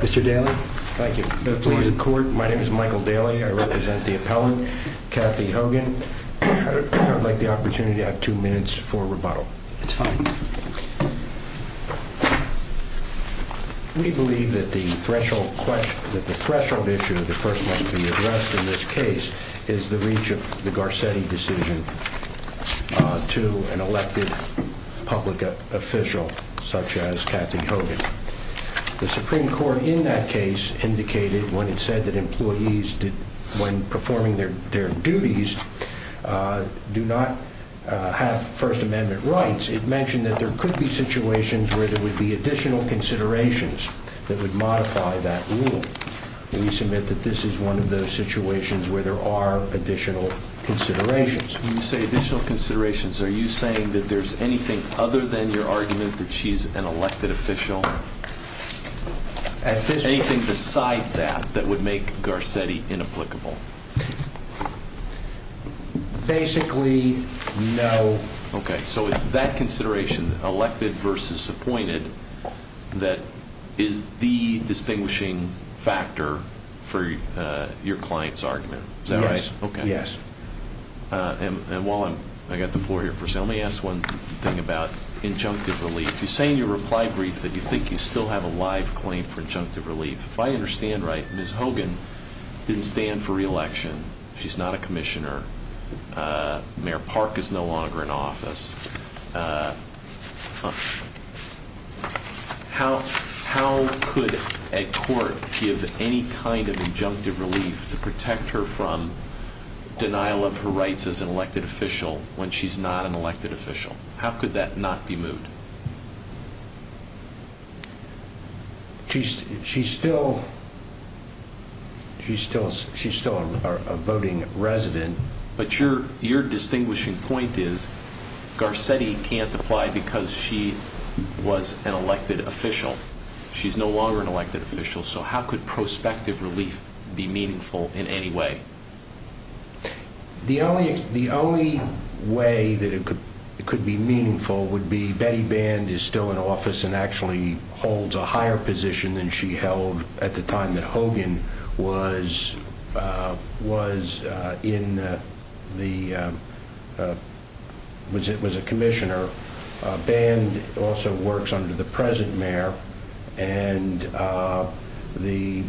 Mr. Daley. Thank you. Please report. My name is Michael Daley. I represent the appellant, Kathy Hogan. I would like the opportunity to have two minutes for rebuttal. It's fine. We believe that the threshold issue that first must be addressed in this case is the reach of the Garcetti decision to an elected public official such as Kathy Hogan. The Supreme Court in that case indicated when it said that employees, when performing their duties, do not have First Amendment rights. It mentioned that there could be situations where there would be additional considerations that would modify that rule. We submit that this is one of those situations where there are additional considerations. When you say additional considerations, are you saying that there's anything other than your argument that she's an elected official? Anything besides that that would make Garcetti inapplicable? Basically, no. Okay. So it's that consideration, elected versus appointed, that is the distinguishing factor for your client's argument. Is that right? Yes. While I've got the floor here, let me ask one thing about injunctive relief. You say in your reply brief that you think you still have a live claim for injunctive relief. If I understand right, Ms. Hogan didn't stand for re-election. She's not a commissioner. Mayor Park is no longer in office. How could a court give any kind of injunctive relief to protect her from denial of her rights as an elected official when she's not an elected official? How could that not be moved? She's still a voting resident. But your distinguishing point is Garcetti can't apply because she was an elected official. She's no longer an elected official, so how could prospective relief be meaningful in any way? The only way that it could be meaningful would be Betty Band is still in office and actually holds a higher position than she held at the time that Hogan was a commissioner. Band also works under the present mayor, and the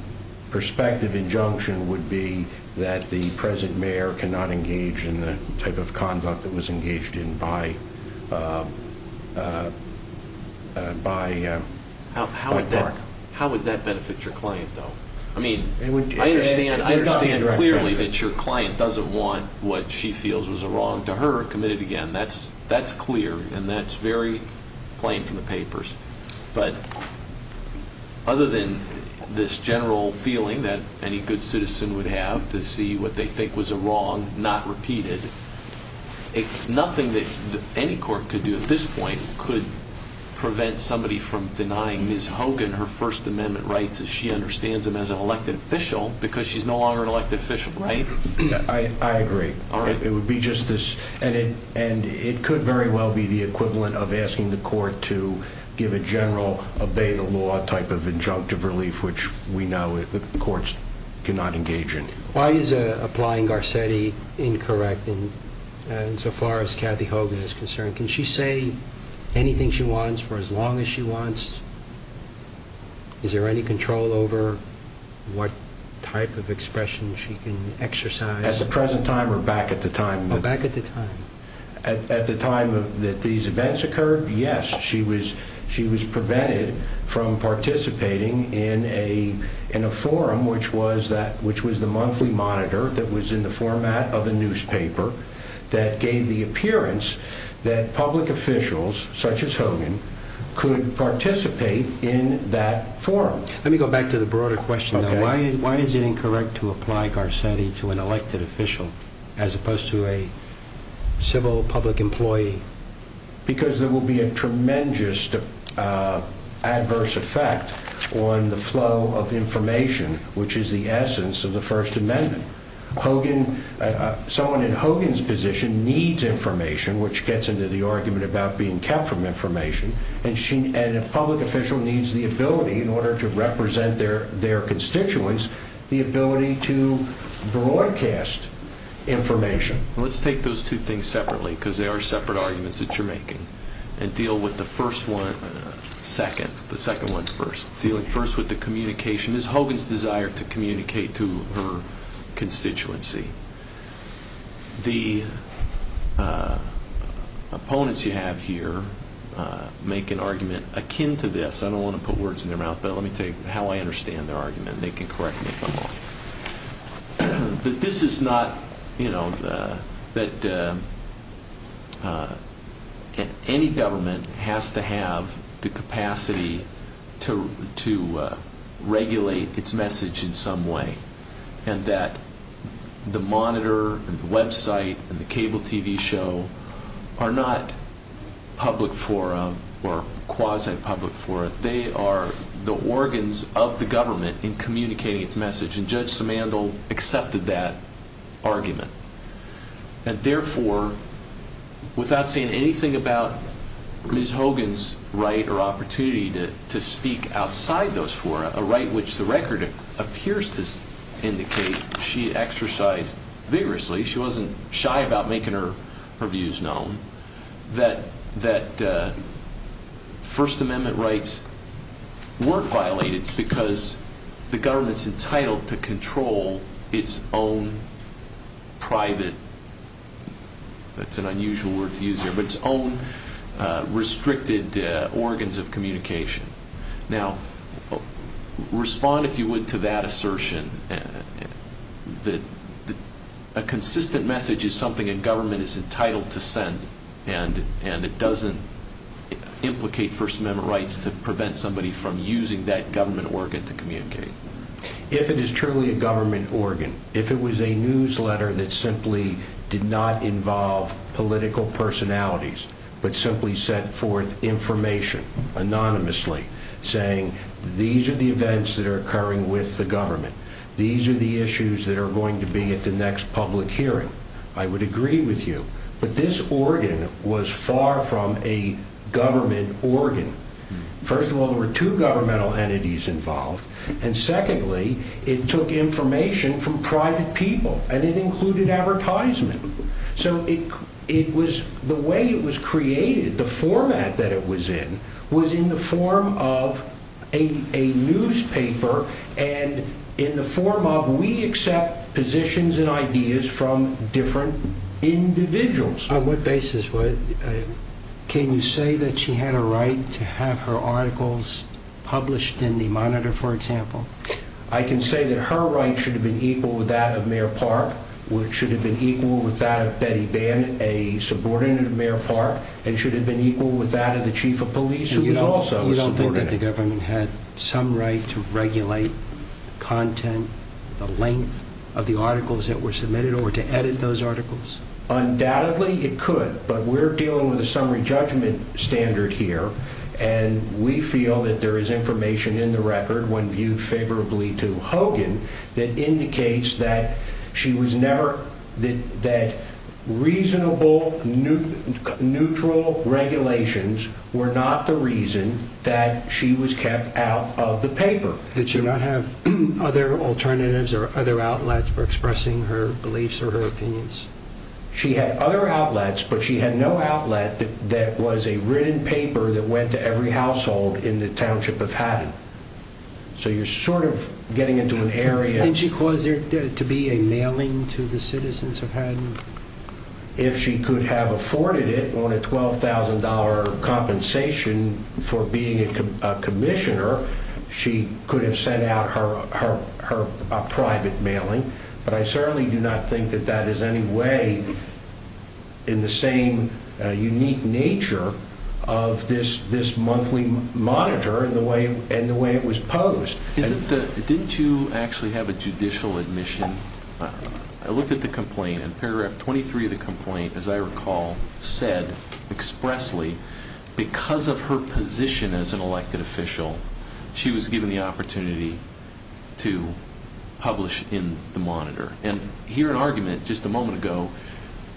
prospective injunction would be that the present mayor cannot engage in the type of conduct that was engaged in by Park. How would that benefit your client, though? I understand clearly that your client doesn't want what she feels was wrong to her committed again. That's clear, and that's very plain from the papers. But other than this general feeling that any good citizen would have to see what they think was wrong not repeated, nothing that any court could do at this point could prevent somebody from denying Ms. Hogan her First Amendment rights as she understands them as an elected official because she's no longer an elected official, right? I agree. It would be just this. And it could very well be the equivalent of asking the court to give a general obey-the-law type of injunctive relief, which we know the courts cannot engage in. Why is applying Garcetti incorrect insofar as Kathy Hogan is concerned? Can she say anything she wants for as long as she wants? Is there any control over what type of expression she can exercise? At the present time or back at the time? Back at the time. At the time that these events occurred, yes, she was prevented from participating in a forum, which was the monthly monitor that was in the format of a newspaper that gave the appearance that public officials such as Hogan could participate in that forum. Let me go back to the broader question. Why is it incorrect to apply Garcetti to an elected official as opposed to a civil public employee? Because there will be a tremendous adverse effect on the flow of information, which is the essence of the First Amendment. Someone in Hogan's position needs information, which gets into the argument about being kept from information. And a public official needs the ability in order to represent their constituents, the ability to broadcast information. Let's take those two things separately, because they are separate arguments that you're making, and deal with the first one second. The second one first. Dealing first with the communication. Ms. Hogan's desire to communicate to her constituency. The opponents you have here make an argument akin to this. I don't want to put words in their mouth, but let me tell you how I understand their argument. They can correct me if I'm wrong. This is not, you know, that any government has to have the capacity to regulate its message in some way. And that the monitor and the website and the cable TV show are not public forum or quasi-public forum. But they are the organs of the government in communicating its message. And Judge Simandl accepted that argument. And therefore, without saying anything about Ms. Hogan's right or opportunity to speak outside those four, a right which the record appears to indicate she exercised vigorously, she wasn't shy about making her views known, that First Amendment rights weren't violated because the government's entitled to control its own private, that's an unusual word to use here, but its own restricted organs of communication. Now, respond if you would to that assertion. A consistent message is something a government is entitled to send, and it doesn't implicate First Amendment rights to prevent somebody from using that government organ to communicate. If it is truly a government organ, if it was a newsletter that simply did not involve political personalities, but simply sent forth information anonymously saying, these are the events that are occurring with the government, these are the issues that are going to be at the next public hearing, I would agree with you. But this organ was far from a government organ. First of all, there were two governmental entities involved, and secondly, it took information from private people, and it included advertisement. So the way it was created, the format that it was in, was in the form of a newspaper, and in the form of we accept positions and ideas from different individuals. On what basis? Can you say that she had a right to have her articles published in the Monitor, for example? I can say that her rights should have been equal with that of Mayor Park, which should have been equal with that of Betty Band, a subordinate of Mayor Park, and should have been equal with that of the Chief of Police, who was also a subordinate. You don't think that the government had some right to regulate content, the length of the articles that were submitted, or to edit those articles? Undoubtedly, it could, but we're dealing with a summary judgment standard here, and we feel that there is information in the record, when viewed favorably to Hogan, that indicates that reasonable, neutral regulations were not the reason that she was kept out of the paper. Did she not have other alternatives or other outlets for expressing her beliefs or her opinions? She had other outlets, but she had no outlet that was a written paper that went to every household in the township of Haddon. So you're sort of getting into an area… Did she cause there to be a mailing to the citizens of Haddon? If she could have afforded it on a $12,000 compensation for being a commissioner, she could have sent out her private mailing, but I certainly do not think that that is any way in the same unique nature of this monthly monitor and the way it was posed. Didn't you actually have a judicial admission? I looked at the complaint, and paragraph 23 of the complaint, as I recall, said expressly, because of her position as an elected official, she was given the opportunity to publish in the monitor. And here in argument, just a moment ago,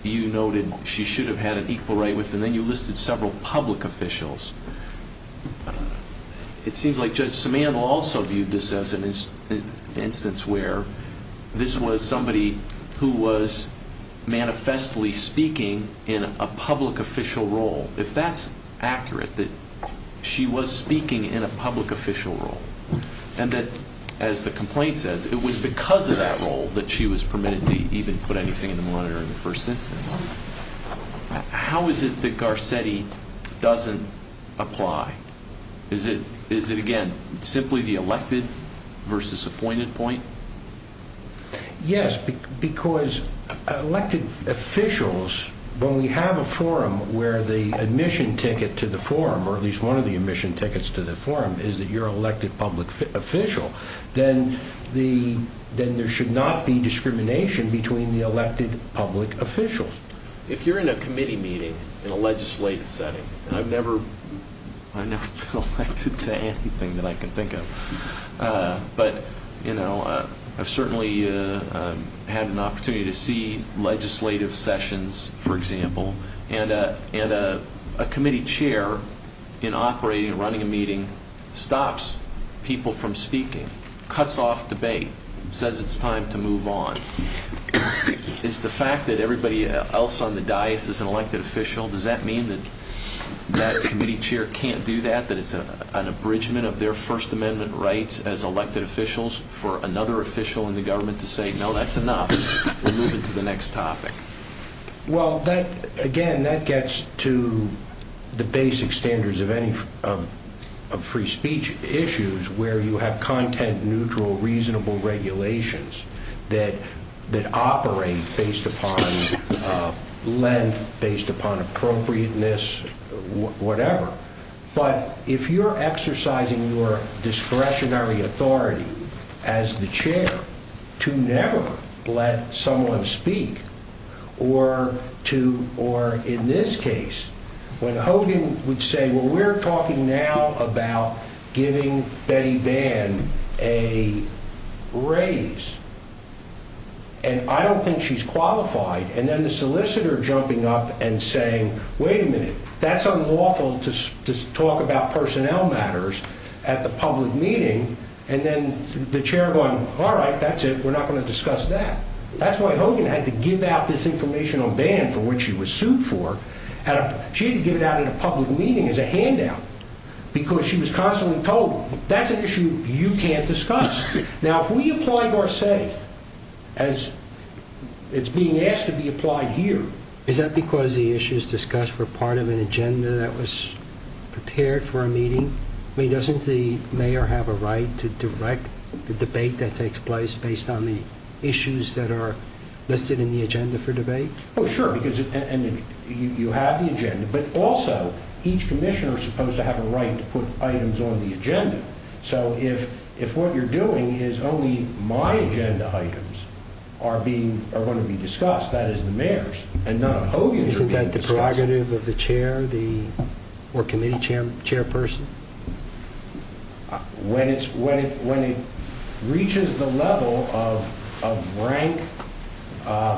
you noted she should have had an equal right with, and then you listed several public officials. It seems like Judge Samantha also viewed this as an instance where this was somebody who was manifestly speaking in a public official role. If that's accurate, that she was speaking in a public official role, and that, as the complaint says, it was because of that role that she was permitted to even put anything in the monitor in the first instance, how is it that Garcetti doesn't apply? Is it, again, simply the elected versus appointed point? Yes, because elected officials, when we have a forum where the admission ticket to the forum, or at least one of the admission tickets to the forum is that you're an elected public official, then there should not be discrimination between the elected public officials. If you're in a committee meeting in a legislative setting, and I've never been elected to anything that I can think of, but I've certainly had an opportunity to see legislative sessions, for example, and a committee chair in operating and running a meeting stops people from speaking, cuts off debate, says it's time to move on. Is the fact that everybody else on the dais is an elected official, does that mean that that committee chair can't do that, that it's an abridgment of their First Amendment rights as elected officials for another official in the government to say, no, that's enough, we're moving to the next topic? Well, again, that gets to the basic standards of free speech issues, where you have content-neutral, reasonable regulations that operate based upon length, based upon appropriateness, whatever. But if you're exercising your discretionary authority as the chair to never let someone speak, or in this case, when Hogan would say, well, we're talking now about giving Betty Bann a raise, and I don't think she's qualified, and then the solicitor jumping up and saying, wait a minute, that's unlawful to talk about personnel matters at the public meeting, and then the chair going, all right, that's it, we're not going to discuss that. That's why Hogan had to give out this informational ban for which she was sued for. She had to give it out at a public meeting as a handout, because she was constantly told, that's an issue you can't discuss. Now, if we apply Garcetti as it's being asked to be applied here. Is that because the issues discussed were part of an agenda that was prepared for a meeting? I mean, doesn't the mayor have a right to direct the debate that takes place based on the issues that are listed in the agenda for debate? Oh, sure, because you have the agenda, but also, each commissioner is supposed to have a right to put items on the agenda. So if what you're doing is only my agenda items are going to be discussed, that is the mayor's, and none of Hogan's are being discussed. Isn't that the prerogative of the chair or committee chairperson? When it reaches the level of rank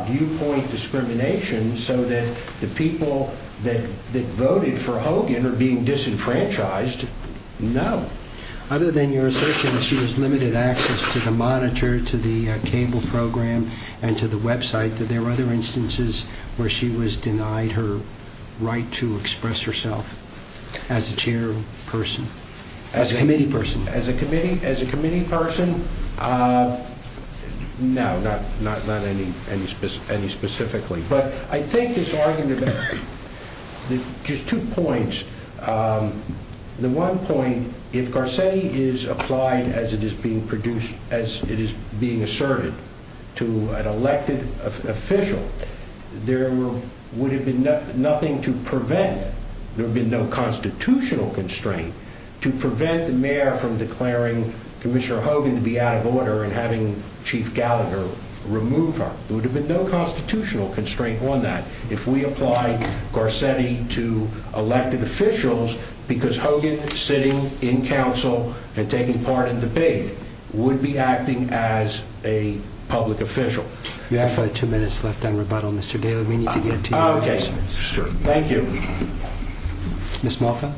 viewpoint discrimination so that the people that voted for Hogan are being disenfranchised, no. Other than your assertion that she was limited access to the monitor, to the cable program, and to the website, are there other instances where she was denied her right to express herself as a chairperson, as a committee person? As a committee person, no, not any specifically. But I think this argument, just two points. The one point, if Garcetti is applied as it is being produced, as it is being asserted to an elected official, there would have been nothing to prevent, there would have been no constitutional constraint, to prevent the mayor from declaring Commissioner Hogan to be out of order and having Chief Gallagher remove her. There would have been no constitutional constraint on that. If we applied Garcetti to elected officials, because Hogan sitting in council and taking part in debate, would be acting as a public official. You have two minutes left on rebuttal, Mr. Gale. We need to get to your questions. Thank you. Mr. Moffat.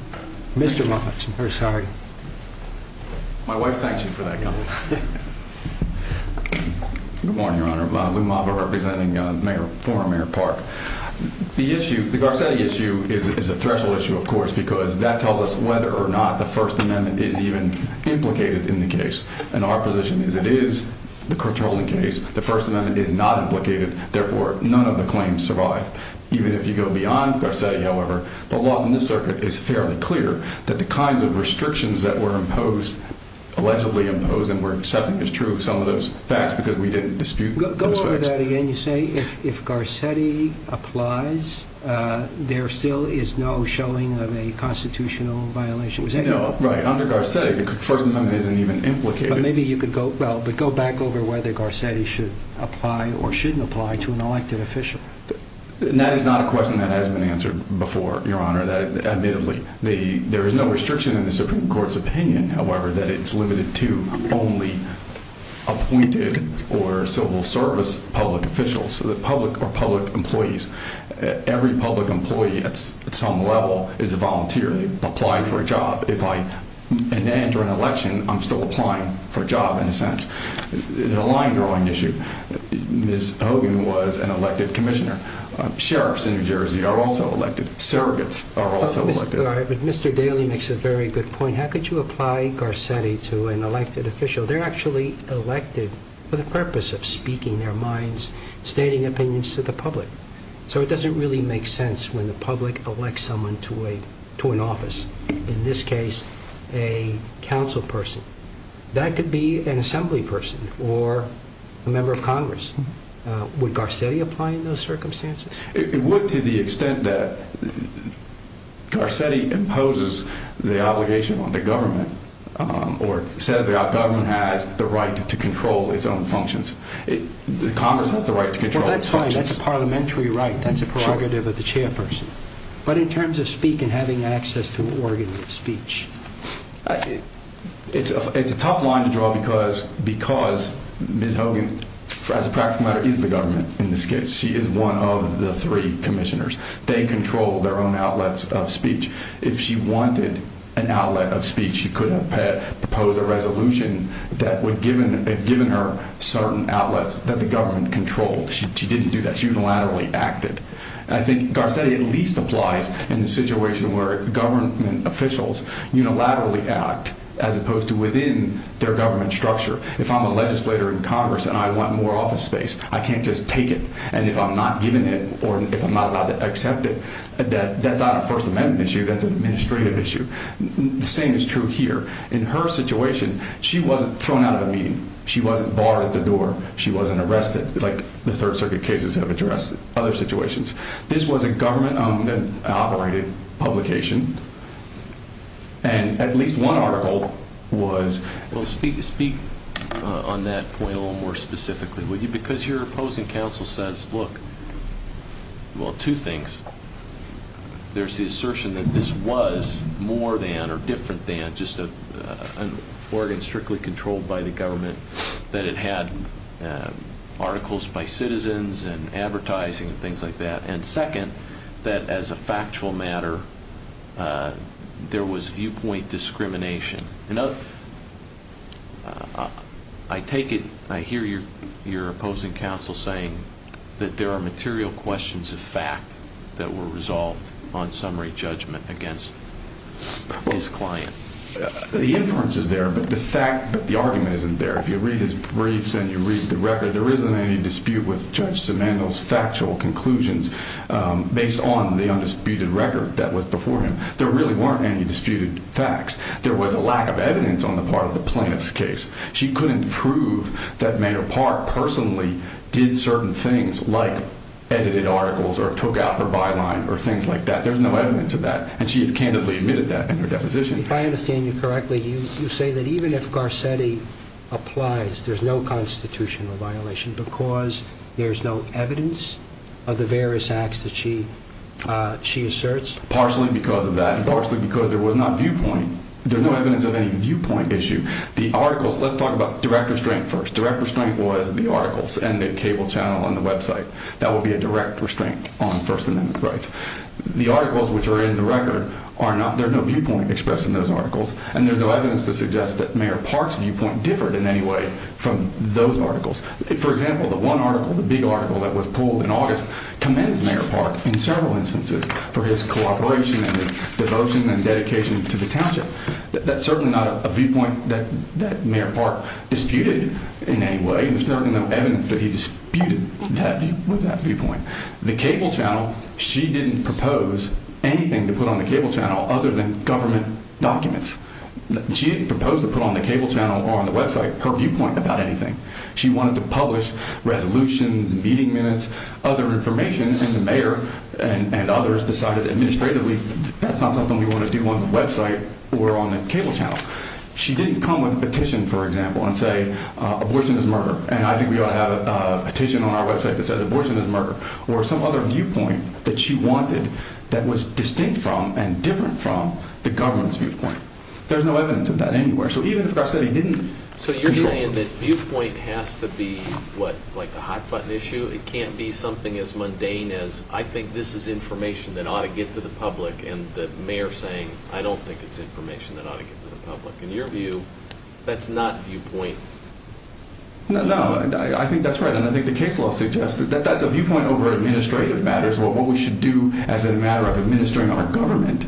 My wife thanks you for that comment. Good morning, Your Honor. Lou Moffat representing former Mayor Park. The issue, the Garcetti issue, is a threshold issue, of course, because that tells us whether or not the First Amendment is even implicated in the case. And our position is it is the controlling case. The First Amendment is not implicated. Therefore, none of the claims survive. Even if you go beyond Garcetti, however, the law in this circuit is fairly clear that the kinds of restrictions that were imposed, allegedly imposed, and were accepted as true of some of those facts because we didn't dispute those facts. Go over that again. You say if Garcetti applies, there still is no showing of a constitutional violation. Right. Under Garcetti, the First Amendment isn't even implicated. Maybe you could go back over whether Garcetti should apply or shouldn't apply to an elected official. That is not a question that has been answered before, Your Honor, admittedly. There is no restriction in the Supreme Court's opinion, however, that it's limited to only appointed or civil service public officials or public employees. Every public employee at some level is a volunteer. They apply for a job. If I enter an election, I'm still applying for a job in a sense. It's a line-drawing issue. Ms. Hogan was an elected commissioner. Sheriffs in New Jersey are also elected. Surrogates are also elected. Mr. Daly makes a very good point. How could you apply Garcetti to an elected official? They're actually elected for the purpose of speaking their minds, stating opinions to the public. So it doesn't really make sense when the public elects someone to an office. In this case, a council person. That could be an assembly person or a member of Congress. Would Garcetti apply in those circumstances? It would to the extent that Garcetti imposes the obligation on the government or says the government has the right to control its own functions. Congress has the right to control its functions. Well, that's fine. That's a parliamentary right. That's a prerogative of the chairperson. But in terms of speaking and having access to organ of speech? It's a tough line to draw because Ms. Hogan, as a practical matter, is the government in this case. She is one of the three commissioners. They control their own outlets of speech. If she wanted an outlet of speech, she could have proposed a resolution that would have given her certain outlets that the government controlled. She didn't do that. She unilaterally acted. I think Garcetti at least applies in the situation where government officials unilaterally act as opposed to within their government structure. If I'm a legislator in Congress and I want more office space, I can't just take it. And if I'm not given it or if I'm not allowed to accept it, that's not a First Amendment issue. That's an administrative issue. The same is true here. In her situation, she wasn't thrown out of a meeting. She wasn't barred at the door. She wasn't arrested like the Third Circuit cases have addressed. This was a government-operated publication, and at least one article was... Speak on that point a little more specifically, would you? Because your opposing counsel says, look, well, two things. There's the assertion that this was more than or different than just an organ strictly controlled by the government, that it had articles by citizens and advertising and things like that, and second, that as a factual matter there was viewpoint discrimination. I take it... I hear your opposing counsel saying that there are material questions of fact that were resolved on summary judgment against this client. The inference is there, but the argument isn't there. If you read his briefs and you read the record, there isn't any dispute with Judge Simandl's factual conclusions based on the undisputed record that was before him. There really weren't any disputed facts. There was a lack of evidence on the part of the plaintiff's case. She couldn't prove that Mayer Park personally did certain things, like edited articles or took out her byline or things like that. There's no evidence of that, and she had candidly admitted that in her deposition. If I understand you correctly, you say that even if Garcetti applies, there's no constitutional violation because there's no evidence of the various acts that she asserts? Partially because of that and partially because there was not viewpoint. There's no evidence of any viewpoint issue. The articles, let's talk about direct restraint first. Direct restraint was the articles and the cable channel and the website. That would be a direct restraint on First Amendment rights. The articles which are in the record, there's no viewpoint expressed in those articles, and there's no evidence to suggest that Mayer Park's viewpoint differed in any way from those articles. For example, the one article, the big article that was pulled in August, commends Mayer Park in several instances for his cooperation and his devotion and dedication to the township. That's certainly not a viewpoint that Mayer Park disputed in any way. There's certainly no evidence that he disputed with that viewpoint. The cable channel, she didn't propose anything to put on the cable channel other than government documents. She didn't propose to put on the cable channel or on the website her viewpoint about anything. She wanted to publish resolutions, meeting minutes, other information, and the mayor and others decided administratively that's not something we want to do on the website or on the cable channel. She didn't come with a petition, for example, and say abortion is murder, and I think we ought to have a petition on our website that says abortion is murder, or some other viewpoint that she wanted that was distinct from and different from the government's viewpoint. There's no evidence of that anywhere, so even if our study didn't— So you're saying that viewpoint has to be, what, like a hot-button issue? It can't be something as mundane as I think this is information that ought to get to the public, and the mayor saying I don't think it's information that ought to get to the public. In your view, that's not viewpoint. No, I think that's right, and I think the case law suggests that that's a viewpoint over administrative matters, what we should do as a matter of administering our government.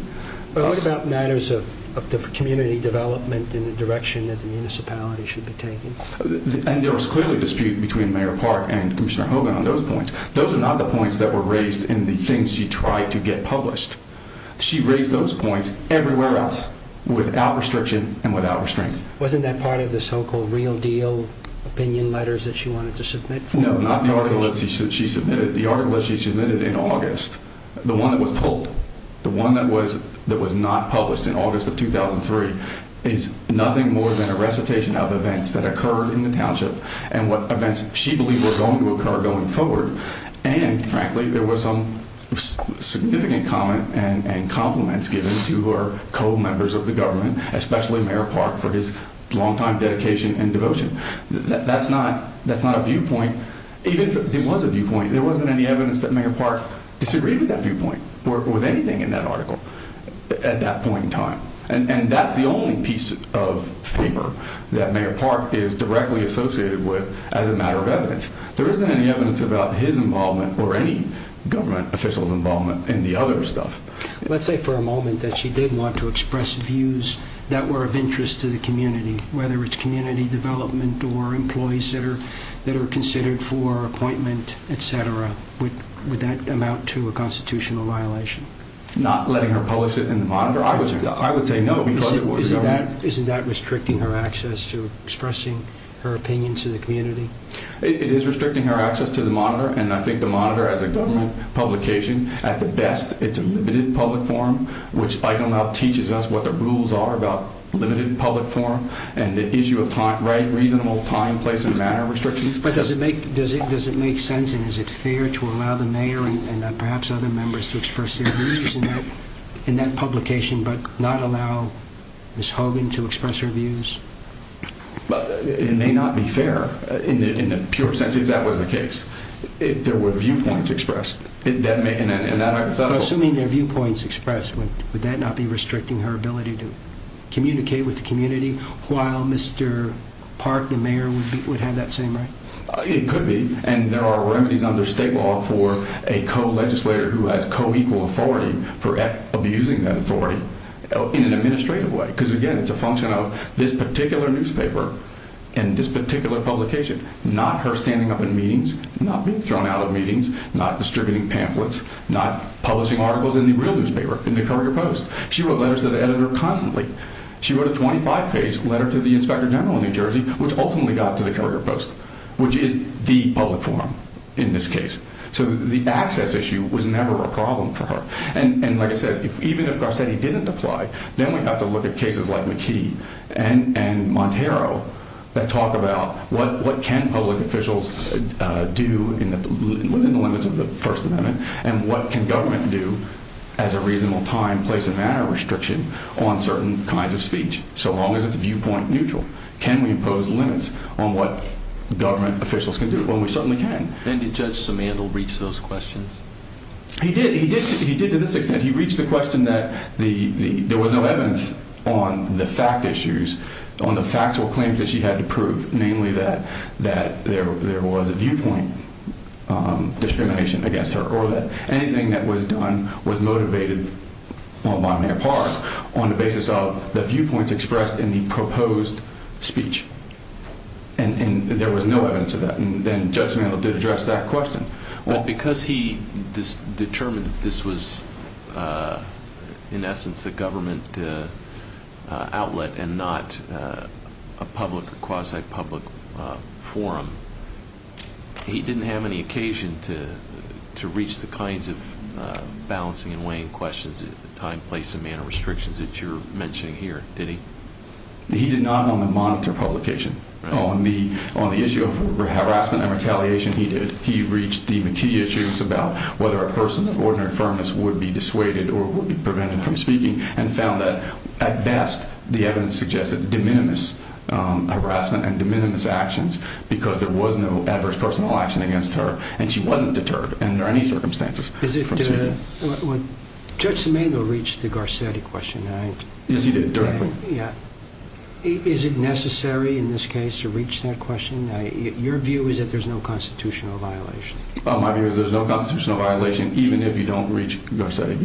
But what about matters of the community development in the direction that the municipality should be taking? And there was clearly a dispute between Mayor Park and Commissioner Hogan on those points. Those are not the points that were raised in the things she tried to get published. She raised those points everywhere else without restriction and without restraint. Wasn't that part of the so-called real deal opinion letters that she wanted to submit? No, not the article that she submitted. The article that she submitted in August, the one that was told, the one that was not published in August of 2003, is nothing more than a recitation of events that occurred in the township and what events she believed were going to occur going forward. And, frankly, there was some significant comment and compliments given to her co-members of the government, especially Mayor Park, for his longtime dedication and devotion. That's not a viewpoint. Even if it was a viewpoint, there wasn't any evidence that Mayor Park disagreed with that viewpoint or with anything in that article at that point in time. And that's the only piece of paper that Mayor Park is directly associated with as a matter of evidence. There isn't any evidence about his involvement or any government official's involvement in the other stuff. Let's say for a moment that she did want to express views that were of interest to the community, whether it's community development or employees that are considered for appointment, et cetera. Would that amount to a constitutional violation? Not letting her publish it in the Monitor. I would say no because it was the government. Isn't that restricting her access to expressing her opinion to the community? It is restricting her access to the Monitor, and I think the Monitor as a government publication, at the best, it's a limited public forum, which Michael now teaches us what the rules are about limited public forum and the issue of reasonable time, place, and manner restrictions. But does it make sense and is it fair to allow the mayor and perhaps other members to express their views in that publication but not allow Ms. Hogan to express her views? It may not be fair in the pure sense if that was the case, if there were viewpoints expressed. Assuming there are viewpoints expressed, would that not be restricting her ability to communicate with the community while Mr. Park, the mayor, would have that same right? It could be, and there are remedies under state law for a co-legislator who has co-equal authority for abusing that authority in an administrative way because, again, it's a function of this particular newspaper and this particular publication, not her standing up in meetings, not being thrown out of meetings, not distributing pamphlets, not publishing articles in the real newspaper, in the Courier Post. She wrote letters to the editor constantly. She wrote a 25-page letter to the inspector general in New Jersey, which ultimately got to the Courier Post, which is the public forum in this case. So the access issue was never a problem for her. And like I said, even if Garcetti didn't apply, then we'd have to look at cases like McKee and Monteiro that talk about what can public officials do within the limits of the First Amendment and what can government do as a reasonable time, place, and manner restriction on certain kinds of speech, so long as it's viewpoint neutral. Can we impose limits on what government officials can do? Well, we certainly can. Then did Judge Simandl reach those questions? He did. He did to this extent. He reached the question that there was no evidence on the fact issues, on the factual claims that she had to prove, namely that there was a viewpoint discrimination against her or that anything that was done was motivated by Mayor Park on the basis of the viewpoints expressed in the proposed speech. And there was no evidence of that. And Judge Simandl did address that question. But because he determined this was, in essence, a government outlet and not a public or quasi-public forum, he didn't have any occasion to reach the kinds of balancing and weighing questions at the time, place, and manner restrictions that you're mentioning here, did he? He did not want to monitor publication. On the issue of harassment and retaliation, he did. He reached the McKee issues about whether a person of ordinary firmness would be dissuaded or would be prevented from speaking and found that, at best, the evidence suggested de minimis harassment and de minimis actions because there was no adverse personal action against her and she wasn't deterred under any circumstances from speaking. Judge Simandl reached the Garcetti question. Yes, he did, directly. Is it necessary in this case to reach that question? Your view is that there's no constitutional violation. My view is there's no constitutional violation even if you don't reach Garcetti.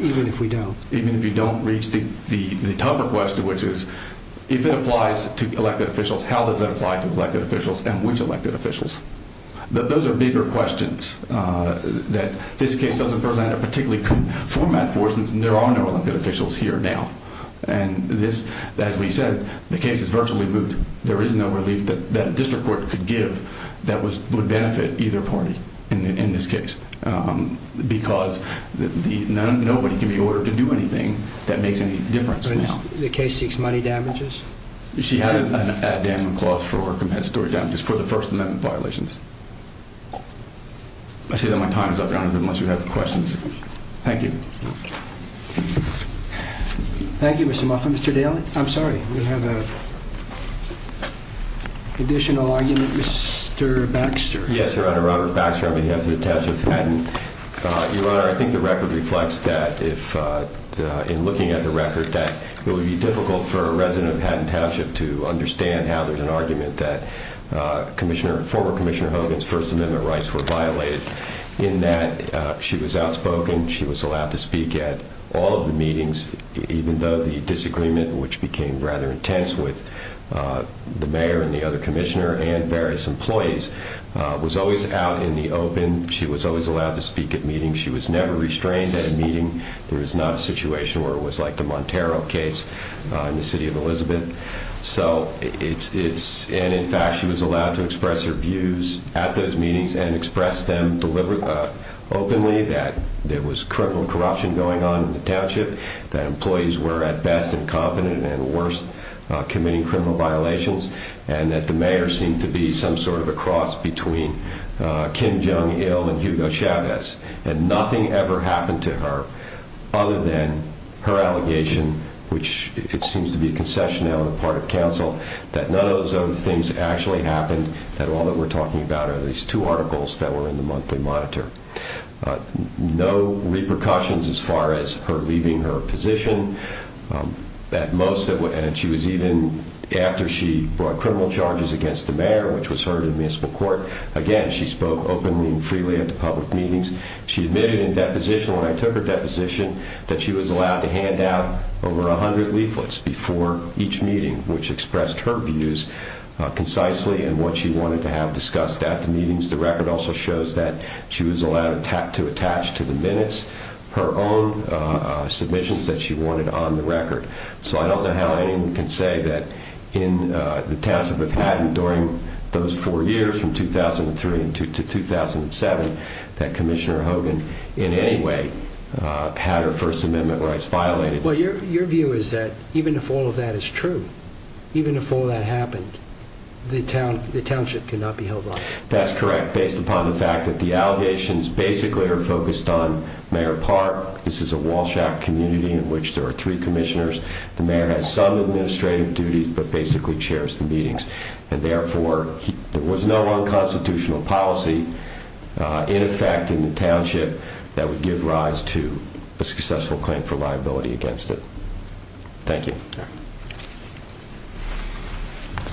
Even if we don't. Even if you don't reach the tougher question, which is, if it applies to elected officials, how does that apply to elected officials and which elected officials? Those are bigger questions that this case doesn't present a particularly clear format for since there are no elected officials here now. And as we said, the case is virtually moved. There is no relief that a district court could give that would benefit either party in this case because nobody can be ordered to do anything that makes any difference now. The case seeks money damages? She had a damning clause for compensatory damages for the First Amendment violations. I say that my time is up, Your Honor, unless you have questions. Thank you. Thank you, Mr. Moffitt. Mr. Daly, I'm sorry, we have an additional argument. Mr. Baxter. Yes, Your Honor, Robert Baxter on behalf of the Township of Hatton. Your Honor, I think the record reflects that in looking at the record that it will be difficult for a resident of Hatton Township to understand how there's an argument that former Commissioner Hogan's First Amendment rights were violated in that she was outspoken, she was allowed to speak at all of the meetings even though the disagreement, which became rather intense with the mayor and the other commissioner and various employees, was always out in the open. She was always allowed to speak at meetings. She was never restrained at a meeting. There is not a situation where it was like the Montero case in the City of Elizabeth. And, in fact, she was allowed to express her views at those meetings and express them openly that there was criminal corruption going on in the township, that employees were at best incompetent and at worst committing criminal violations, and that the mayor seemed to be some sort of a cross between Kim Jong-il and Hugo Chavez. And nothing ever happened to her other than her allegation, which it seems to be a concessionary on the part of counsel, that none of those other things actually happened, that all that we're talking about are these two articles that were in the monthly monitor. No repercussions as far as her leaving her position. At most, she was even, after she brought criminal charges against the mayor, which was her admissible court, again, she spoke openly and freely at the public meetings. She admitted in deposition, when I took her deposition, that she was allowed to hand out over 100 leaflets before each meeting, which expressed her views concisely and what she wanted to have discussed at the meetings. The record also shows that she was allowed to attach to the minutes her own submissions that she wanted on the record. So I don't know how anyone can say that in the township of Haddon, during those four years from 2003 to 2007, that Commissioner Hogan in any way had her First Amendment rights violated. Well, your view is that even if all of that is true, That's correct, based upon the fact that the allegations basically are focused on Mayor Park. This is a Walsh Act community in which there are three commissioners. The mayor has some administrative duties, but basically chairs the meetings. And therefore, there was no unconstitutional policy in effect in the township that would give rise to a successful claim for liability against it. Thank you.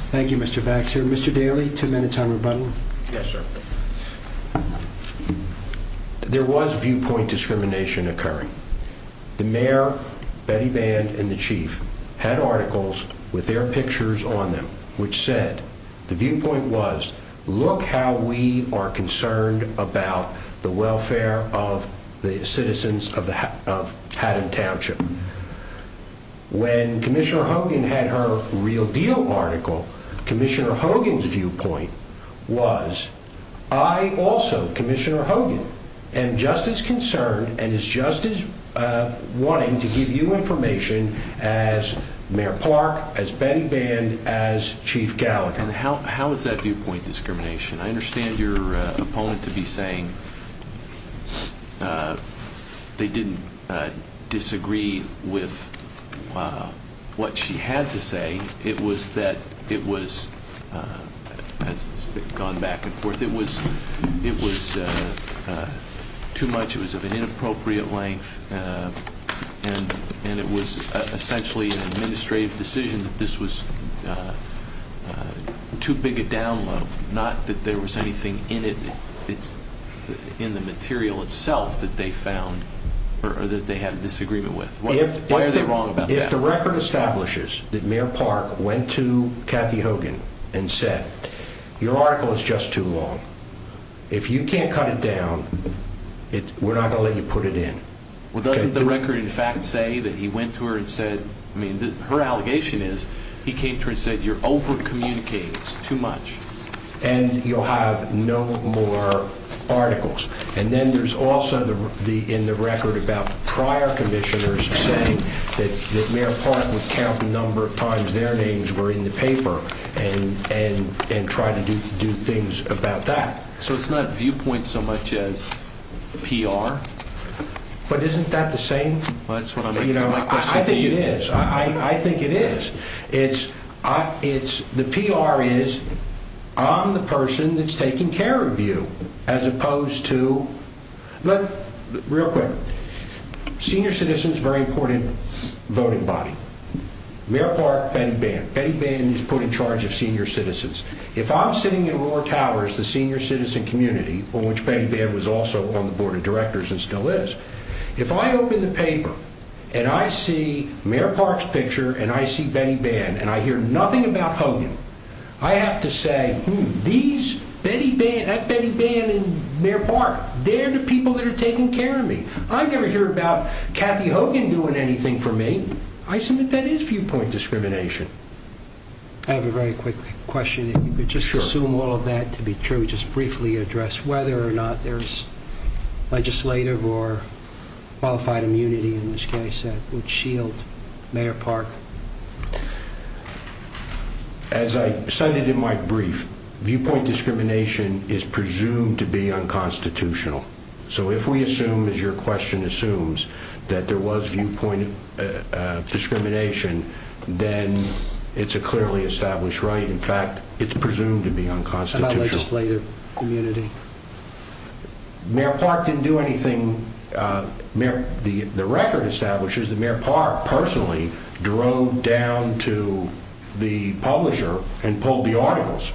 Thank you, Mr. Baxter. Mr. Daly, two minutes on rebuttal. Yes, sir. There was viewpoint discrimination occurring. The mayor, Betty Band, and the chief had articles with their pictures on them, which said the viewpoint was, look how we are concerned about the welfare of the citizens of Haddon Township. When Commissioner Hogan had her Real Deal article, Commissioner Hogan's viewpoint was, I also, Commissioner Hogan, am just as concerned and is just as wanting to give you information as Mayor Park, as Betty Band, as Chief Gallagher. How is that viewpoint discrimination? I understand your opponent to be saying they didn't disagree with what she had to say. It was that it was, as it's gone back and forth, it was too much. It was of an inappropriate length, and it was essentially an administrative decision that this was too big a download, not that there was anything in it. It's in the material itself that they found or that they had a disagreement with. Why are they wrong about that? If the record establishes that Mayor Park went to Kathy Hogan and said, your article is just too long, if you can't cut it down, we're not going to let you put it in. Well, doesn't the record in fact say that he went to her and said, I mean, her allegation is he came to her and said, you're over communicating, it's too much. And you'll have no more articles. And then there's also in the record about prior commissioners saying that Mayor Park would count the number of times their names were in the paper and try to do things about that. So it's not viewpoint so much as PR? But isn't that the same? I think it is. I think it is. The PR is, I'm the person that's taking care of you, as opposed to... Real quick. Senior citizens, very important voting body. Mayor Park, Betty Bannon. Betty Bannon is put in charge of senior citizens. If I'm sitting in Roar Towers, the senior citizen community, on which Betty Bannon was also on the board of directors and still is, if I open the paper and I see Mayor Park's picture and I see Betty Bannon and I hear nothing about Hogan, I have to say, that Betty Bannon and Mayor Park, they're the people that are taking care of me. I never hear about Kathy Hogan doing anything for me. I submit that is viewpoint discrimination. I have a very quick question. If you could just assume all of that to be true, just briefly address whether or not there's legislative or qualified immunity in this case that would shield Mayor Park. As I cited in my brief, viewpoint discrimination is presumed to be unconstitutional. So if we assume, as your question assumes, that there was viewpoint discrimination, then it's a clearly established right. In fact, it's presumed to be unconstitutional. How about legislative immunity? Mayor Park didn't do anything. The record establishes that Mayor Park personally drove down to the publisher and pulled the articles.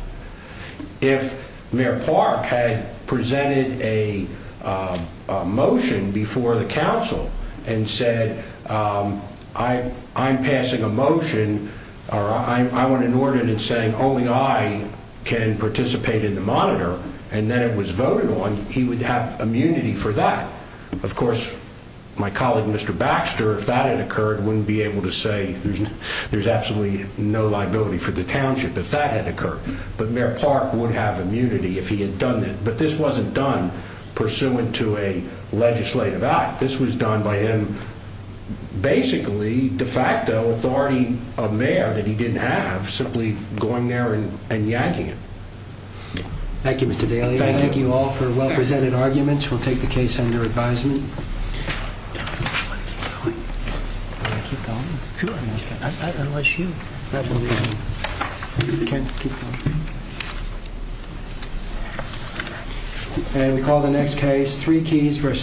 If Mayor Park had presented a motion before the council and said, I'm passing a motion, or I want an ordinance saying only I can participate in the monitor, and then it was voted on, he would have immunity for that. Of course, my colleague Mr. Baxter, if that had occurred, wouldn't be able to say there's absolutely no liability for the township if that had occurred. But Mayor Park would have immunity if he had done that. But this wasn't done pursuant to a legislative act. This was done by him, basically, de facto authority of mayor that he didn't have, simply going there and yakking it. Thank you, Mr. Daly. I thank you all for well-presented arguments. We'll take the case under advisement. And we call the next case, Three Keys versus...